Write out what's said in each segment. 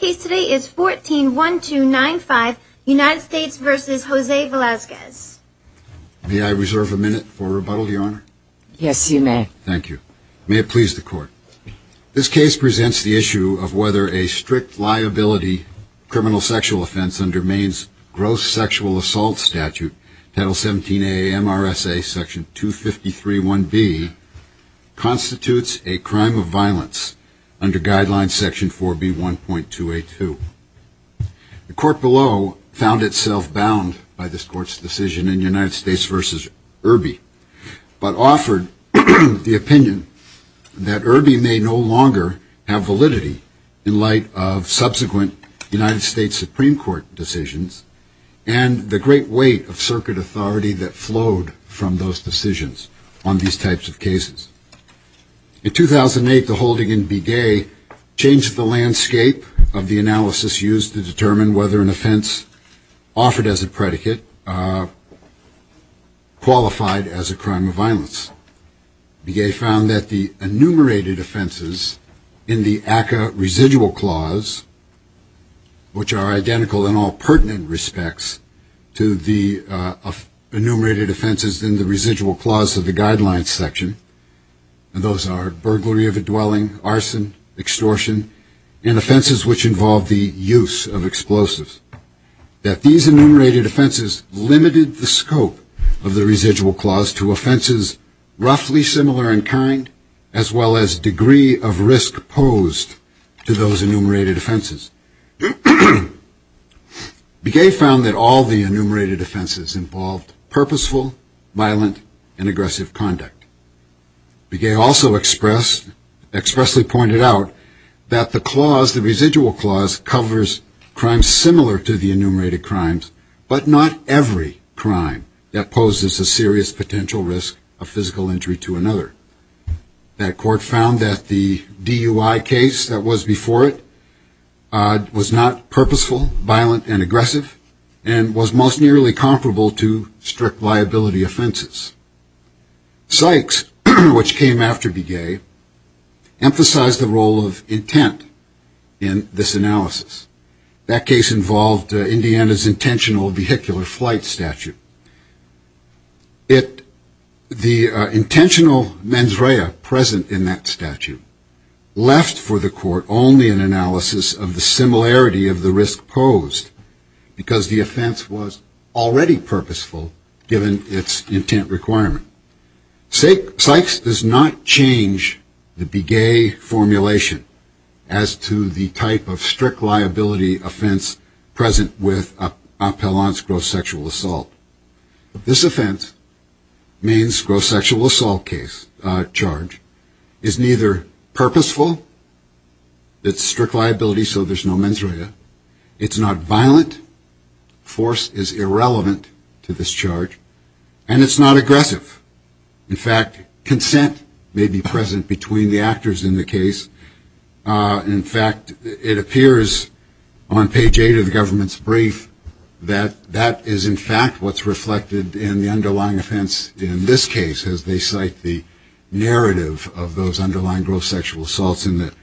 May I reserve a minute for rebuttal your honor? Yes you may. Thank you. May it please the court. This case presents the issue of whether a strict liability criminal sexual offense under Maine's gross sexual assault statute title 17 AMRSA section 253.1b constitutes a crime of violence under guideline section 4B.1.2. The court below found itself bound by this court's decision in United States v. Irby but offered the opinion that Irby may no longer have validity in light of subsequent United States Supreme Court decisions and the great weight of circuit authority that flowed from those decisions on these types of cases. In 2008 the holding in Begay changed the landscape of the analysis used to determine whether an offense offered as a predicate qualified as a crime of violence. Begay found that the enumerated offenses in the ACCA residual clause, which are identical in all pertinent respects to the enumerated offenses in the residual clause of the guidelines section, and those are burglary of a dwelling, arson, extortion, and offenses which involve the use of explosives. These enumerated offenses limited the scope of the residual clause to offenses roughly similar in kind as well as degree of risk posed to those enumerated offenses. Begay found that all the enumerated offenses involved purposeful, violent, and aggressive conduct. Begay also expressed, expressly pointed out, that the clause, the residual clause, covers crimes similar to the enumerated crimes but not every crime that poses a serious potential risk of physical injury to another. That court found that the DUI case that was before it was not purposeful, violent, and aggressive and was most nearly comparable to strict liability offenses. Sykes, which came after Begay, emphasized the role of intent in this analysis. That case involved Indiana's intentional vehicular flight statute. The intentional mens rea present in that statute left for the court only an analysis of the similarity of the risk posed because the offense was already purposeful given its intent requirement. Sykes does not change the Begay formulation as to the type of strict liability offense present with appellant's gross sexual assault. This offense, Maine's gross sexual assault charge, is neither purposeful, it's strict liability so there's no mens rea, it's not violent, force is irrelevant to this charge, and it's not aggressive. In fact, consent may be present between the actors in the case. In fact, it appears on page 8 of the government's brief that that is in fact what's reflected in the underlying offense in this case as they cite the narrative of those underlying gross sexual assaults in the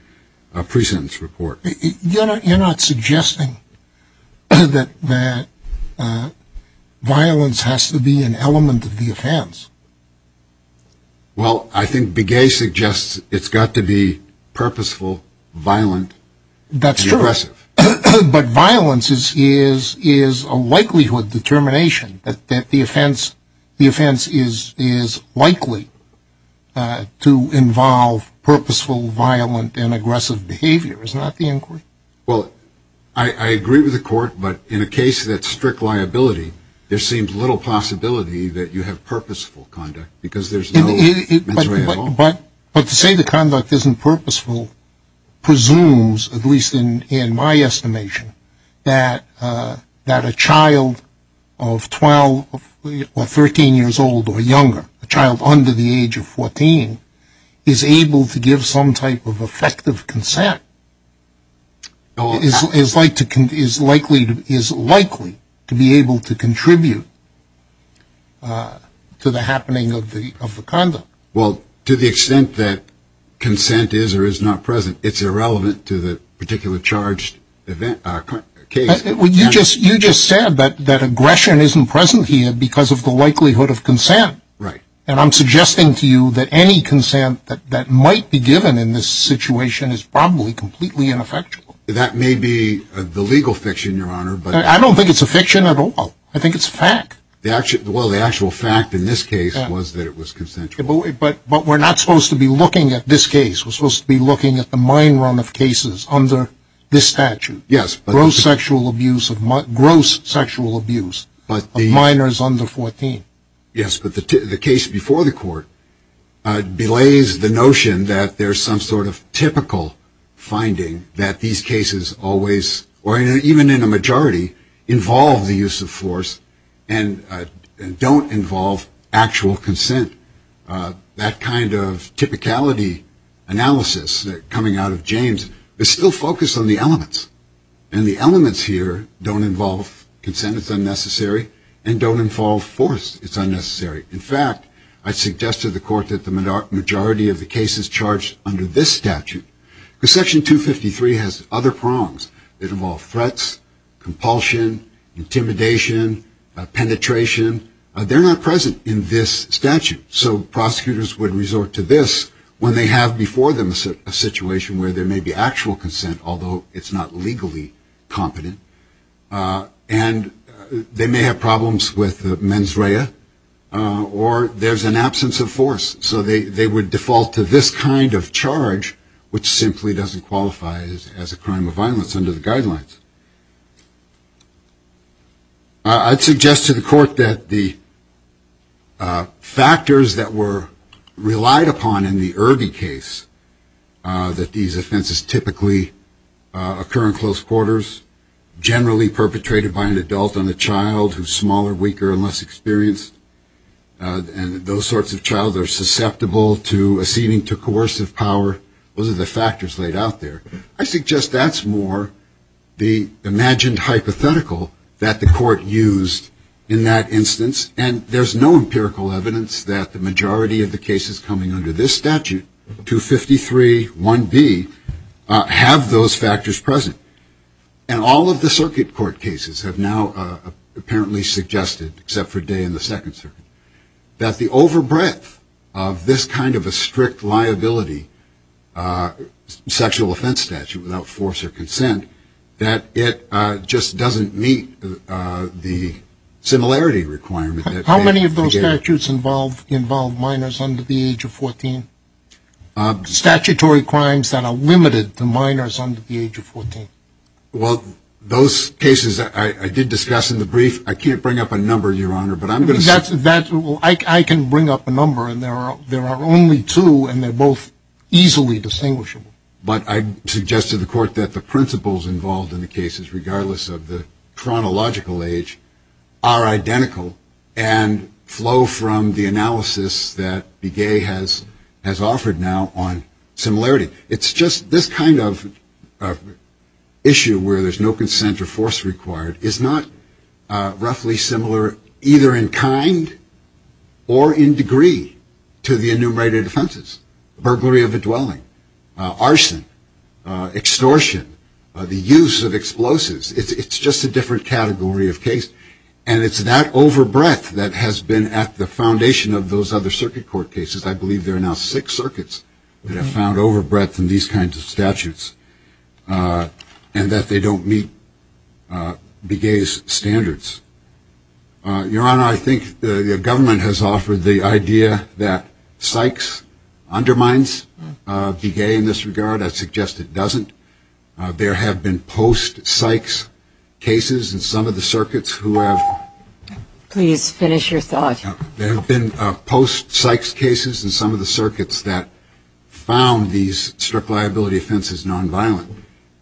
pre-sentence report. You're not suggesting that violence has to be an element of the offense? Well, I think Begay suggests it's got to be purposeful, violent, and aggressive. That's true, but violence is a likelihood determination that the offense is likely to involve purposeful, violent, and aggressive behavior, is that the inquiry? Well, I agree with the court, but in a case that's strict liability, there seems little possibility that you have purposeful conduct because there's no mens rea at all. But to say the conduct isn't purposeful presumes, at least in my estimation, that a child of 12 or 13 years old or younger, a child under the age of 14, is able to give some type of effective consent. Is likely to be able to contribute to the happening of the conduct. Well, to the extent that consent is or is not present, it's irrelevant to the particular charged case. You just said that aggression isn't present here because of the likelihood of consent. And I'm suggesting to you that any consent that might be given in this situation is probably completely ineffectual. That may be the legal fiction, Your Honor. I don't think it's a fiction at all. I think it's a fact. Well, the actual fact in this case was that it was consensual. But we're not supposed to be looking at this case. We're supposed to be looking at the mine run of cases under this statute. Gross sexual abuse of minors under 14. Yes, but the case before the court belays the notion that there's some sort of typical finding that these cases always, or even in a majority, involve the use of force and don't involve actual consent. That kind of typicality analysis coming out of James is still focused on the elements. And the elements here don't involve consent, it's unnecessary, and don't involve force, it's unnecessary. In fact, I'd suggest to the court that the majority of the case is charged under this statute. Because Section 253 has other prongs that involve threats, compulsion, intimidation, penetration. They're not present in this statute. So prosecutors would resort to this when they have before them a situation where there may be actual consent, although it's not legally competent. And they may have problems with mens rea, or there's an absence of force. So they would default to this kind of charge, which simply doesn't qualify as a crime of violence under the guidelines. I'd suggest to the court that the factors that were relied upon in the Irby case, that these offenses typically occur in close quarters, generally perpetrated by an adult and a child who's smaller, weaker, and less experienced. And those sorts of child are susceptible to acceding to coercive power. Those are the factors laid out there. I suggest that's more the imagined hypothetical that the court used in that instance, and there's no empirical evidence that the majority of the cases coming under this statute, 253.1b, have those factors present. And all of the circuit court cases have now apparently suggested, except for Day in the Second Circuit, that the overbreadth of this kind of a strict liability, sexual offense statute without force or consent, that it just doesn't meet the similarity requirement. How many of those statutes involve minors under the age of 14? Statutory crimes that are limited to minors under the age of 14. Well, those cases I did discuss in the brief. I can't bring up a number, Your Honor. I can bring up a number, and there are only two, and they're both easily distinguishable. But I suggest to the court that the principles involved in the cases, regardless of the chronological age, are identical and flow from the analysis that Begay has offered now on similarity. It's just this kind of issue, where there's no consent or force required, is not roughly similar, either in the sense that there's a minor or a minor. They're in kind or in degree to the enumerated offenses. Burglary of a dwelling, arson, extortion, the use of explosives. It's just a different category of case, and it's that overbreadth that has been at the foundation of those other circuit court cases. I believe there are now six circuits that have found overbreadth in these kinds of statutes, and that they don't meet Begay's standards. I think the government has offered the idea that Sykes undermines Begay in this regard. I suggest it doesn't. There have been post-Sykes cases in some of the circuits who have... Please finish your thought. There have been post-Sykes cases in some of the circuits that found these strict liability offenses nonviolent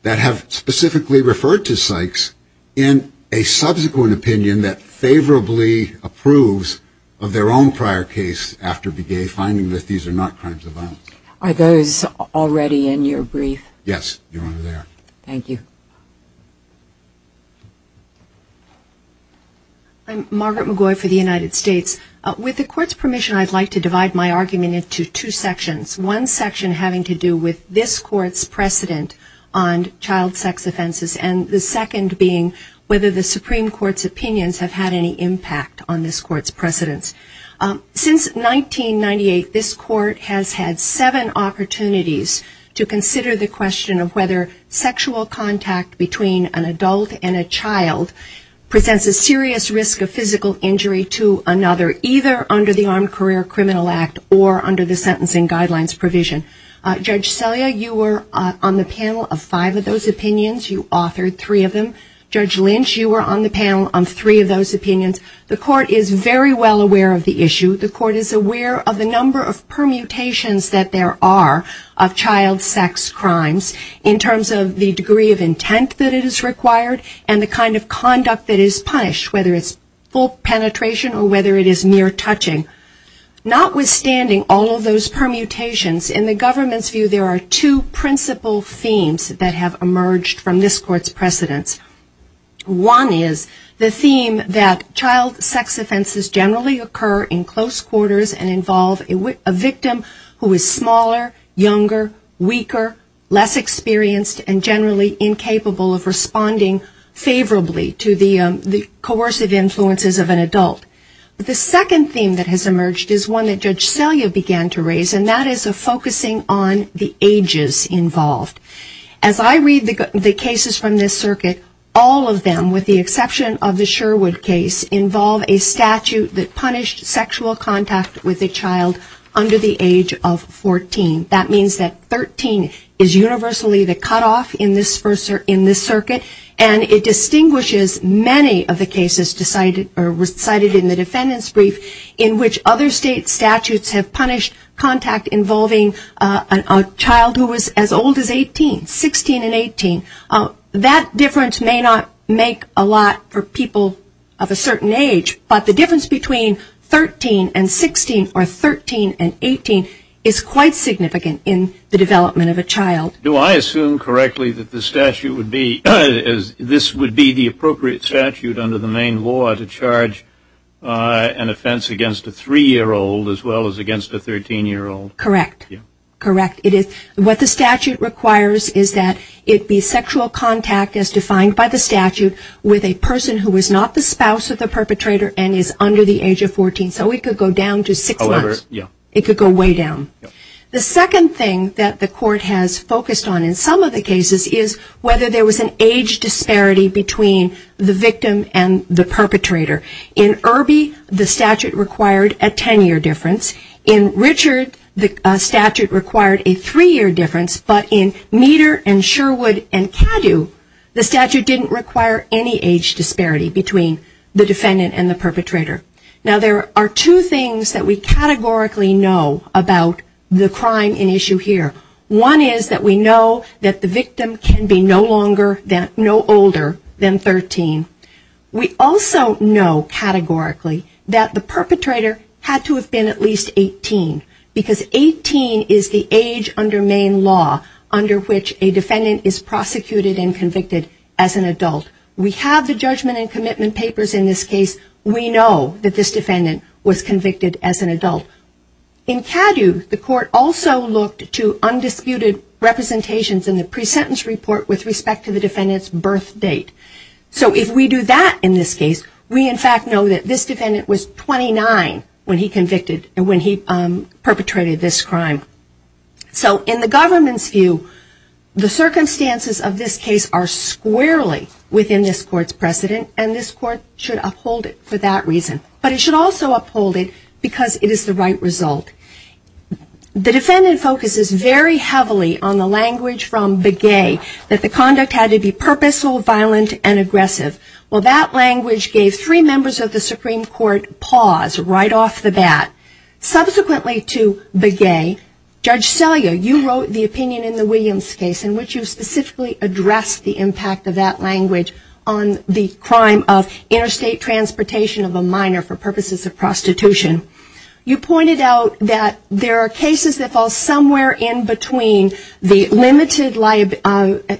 that have specifically referred to Sykes in a subsequent opinion that favorably applies to Begay. There have been post-Sykes cases in some of the circuits that have found these strict liability offenses nonviolent that have specifically referred to Sykes in a subsequent opinion that favorably approves of their own prior case after Begay finding that these are not crimes of violence. Are those already in your brief? Yes, they are. Thank you. I'm Margaret McGoy for the United States. With the court's permission, I'd like to divide my argument into two sections. One section having to do with this court's precedent on child sex offenses, and the second being whether the Supreme Court's opinions have had any impact on this court's precedence. Since 1998, this court has had seven opportunities to consider the question of whether sexual contact with a child sex offender has had any impact on the court's precedence. So culturally, the same rough justices of sexual contact between an adult and a child presents a serious risk of physical injury to another either under the armed career criminal act or under the sentencing Guidelines provision. Judge Celia, you were on the panel of five of those opinions. You authored three of them. Judge Lynch, you were on the panel on three of those opinions. The court is very well aware of the issue. The court is aware of the number of permutations that there are of child sex offenses in terms of the degree of intent that it is required and the kind of conduct that is punished, whether it's full penetration or whether it is mere touching. Notwithstanding all of those permutations, in the government's view, there are two principle themes that have emerged from this court's precedents. One is the theme that child sex offenses generally occur in close quarters and involve a victim who is smaller, younger, weaker, less experienced, and generally incapable of responding favorably to the coercive influences of an adult. The second theme that has emerged is one that Judge Selya began to raise and that is a focusing on the ages involved. As I read the cases from this circuit, all of them, with the exception of the Sherwood case, involve a statute that punished sexual contact with a child under the age of 14. That means that 13 is universally the cutoff in this circuit and it distinguishes many of the cases cited in the defendant's brief in which other state statutes have punished contact involving a child who is as old as 18, 16 and 18. That difference may not make a lot for people of a certain age, but the difference between 13 and 16 or 13 and 18 is quite significant in the development of a child. Do I assume correctly that the statute would be, this would be the appropriate statute under the main law to charge an offense against a 3-year-old as well as against a 13-year-old? Correct. Correct. What the statute requires is that it be sexual contact as defined by the statute with a person who is not the spouse of the perpetrator and is under the age of 14. So it could go down to 6 months. It could go way down. The second thing that the court has focused on in some of the cases is whether there was an age disparity between the victim and the perpetrator. In Irby, the statute required a 10-year difference. In Richard, the statute required a 3-year difference. But in Meader and Sherwood and Caddo, the statute didn't require any age disparity between the defendant and the perpetrator. Now there are two things that we categorically know about the crime in issue here. One is that we know that the victim can be no longer, no older than 13. We also know categorically that the perpetrator had to have been at least 18 because 18 is the age under main law under which a defendant is prosecuted and convicted as an adult. We have the judgment and commitment papers in this case. We know that this defendant was convicted as an adult. In Caddo, the court also looked to undisputed representations in the pre-sentence report with respect to the defendant's birth date. So if we do that in this case, we in fact know that this defendant was 29 when he convicted, when he perpetrated this crime. So in the government's view, the circumstances of this case are squarely within this court's precedent and this court should uphold it for that reason. But it should also uphold it because it is the right result. The defendant focuses very heavily on the language from Begay that the conduct had to be purposeful, violent, and aggressive. Well, that language gave three members of the Supreme Court pause right off the bat. Subsequently to Begay, Judge Selia, you wrote the opinion in the Williams case in which you specifically addressed the impact of that language on the crime of interstate transportation of a minor for purposes of prostitution. You pointed out that there are cases that fall somewhere in between the limited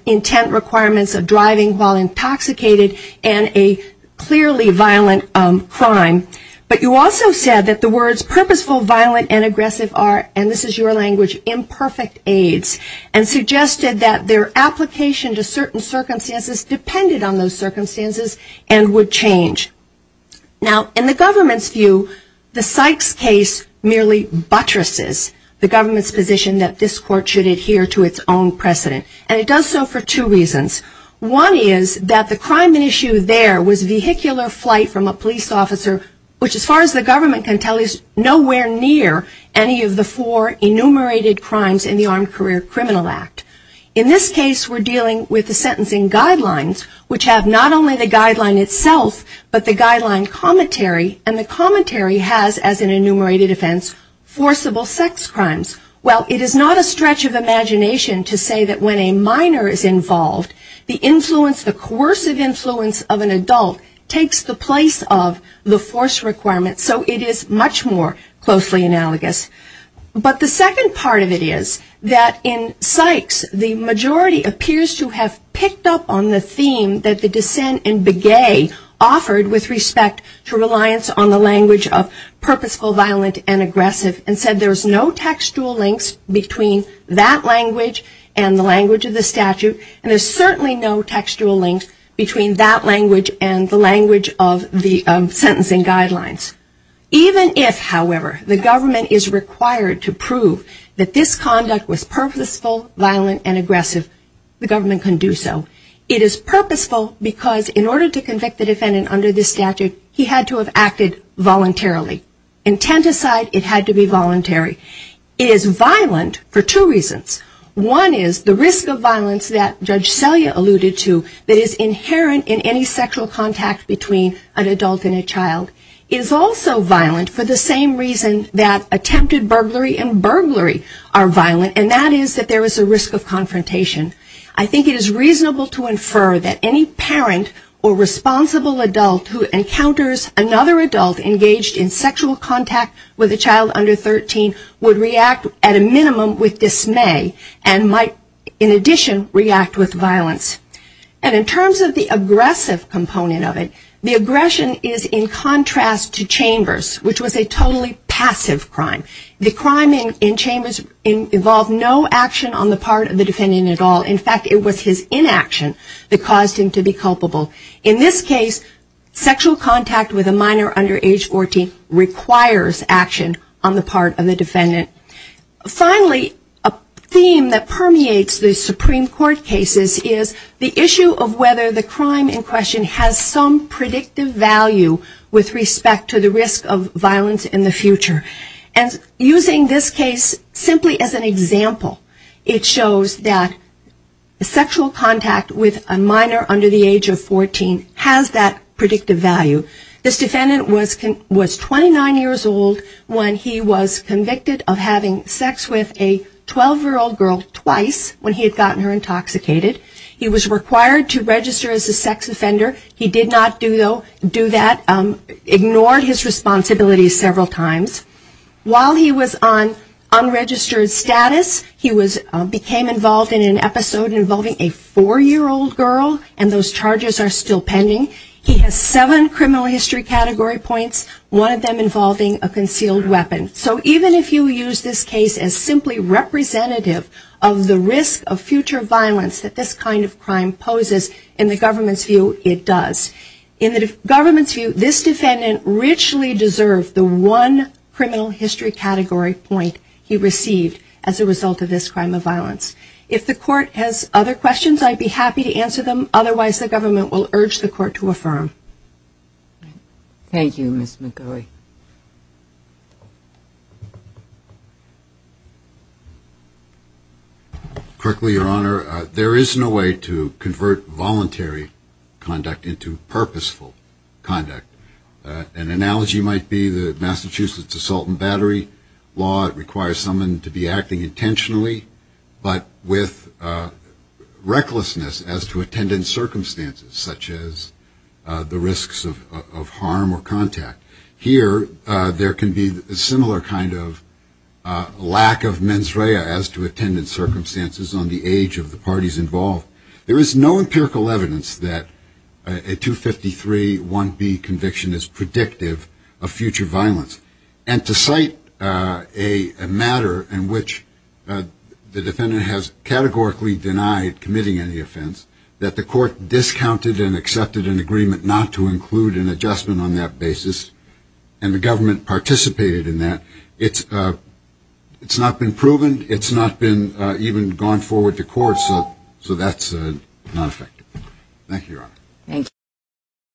intent requirements of driving while intoxicated and a clearly violent crime. But you also said that the words purposeful, violent, and aggressive are, and this is your language, imperfect aids and suggested that their application to certain circumstances depended on those circumstances and would change. Now, in the government's view, the Sykes case merely buttresses the government's position that this court should adhere to its own precedent. And it does so for two reasons. One is that the crime at issue there was vehicular flight from a police officer, which as far as the government can tell is nowhere near any of the four enumerated crimes in the Armed Career Criminal Act. In this case, we're dealing with the sentencing guidelines, which have not only the guideline itself, but the guideline commentary. And the commentary has, as an enumerated offense, forcible sex crimes. Well, it is not a stretch of imagination to say that when a minor is involved, the influence, the coercive influence of an adult takes the place of the force requirement. So it is much more closely analogous. But the second part of it is that in Sykes, the majority appears to have picked up on the theme that the dissent in Begay offered with respect to reliance on the language of purposeful, violent, and aggressive. And said there's no textual links between that language and the language of the statute. And there's certainly no textual links between that language and the language of the sentencing guidelines. Even if, however, the government is required to prove that this conduct was purposeful, violent, and aggressive, the government can do so. It is purposeful because in order to convict the defendant under this statute, he had to have acted voluntarily. Intent aside, it had to be voluntary. It is violent for two reasons. One is the risk of violence that Judge Selya alluded to that is inherent in any sexual contact between an adult and a child. It is also violent for the same reason that attempted burglary and burglary are violent, and that is that there is a risk of confrontation. I think it is reasonable to infer that any parent or responsible adult who encounters another adult engaged in sexual contact with a child under 13 would react at a minimum with dismay and might, in addition, react with violence. And in terms of the aggressive component of it, the aggression is in contrast to Chambers, which was a totally passive crime. The crime in Chambers involved no action on the part of the defendant at all. In fact, it was his inaction that caused him to be culpable. In this case, sexual contact with a minor under age 14 requires action on the part of the defendant. Finally, a theme that permeates the Supreme Court cases is the issue of whether the crime in question has some predictive value with respect to the risk of violence in the future. And using this case simply as an example, it shows that sexual contact with a minor under the age of 14 has that predictive value. This defendant was 29 years old when he was convicted of having sex with a 12-year-old girl twice when he had gotten her intoxicated. He was required to register as a sex offender. He did not do that, ignored his responsibilities several times. While he was on unregistered status, he became involved in an episode involving a 4-year-old girl, and those charges are still pending. He has seven criminal history category points, one of them involving a concealed weapon. So even if you use this case as simply representative of the risk of future violence that this kind of crime poses, in the government's view, it does. In the government's view, this defendant richly deserved the one criminal history category point he received as a result of this crime of violence. If the court has other questions, I'd be happy to answer them. Otherwise, the government will urge the court to affirm. Thank you, Ms. McGoey. Quickly, Your Honor, there is no way to convert voluntary conduct into purposeful conduct. An analogy might be the Massachusetts assault and battery law. It requires someone to be acting intentionally, but with recklessness as to attendant circumstances, such as the risks of harm or contact. Here, there can be a similar kind of lack of mens rea as to attendant circumstances on the age of the parties involved. There is no empirical evidence that a 253-1B conviction is predictive of future violence. And to cite a matter in which the defendant has categorically denied committing any offense, that the court discounted and accepted an agreement not to include an adjustment on that basis, and the government participated in that, it's not been proven, it's not been even gone forward to court, so that's not effective.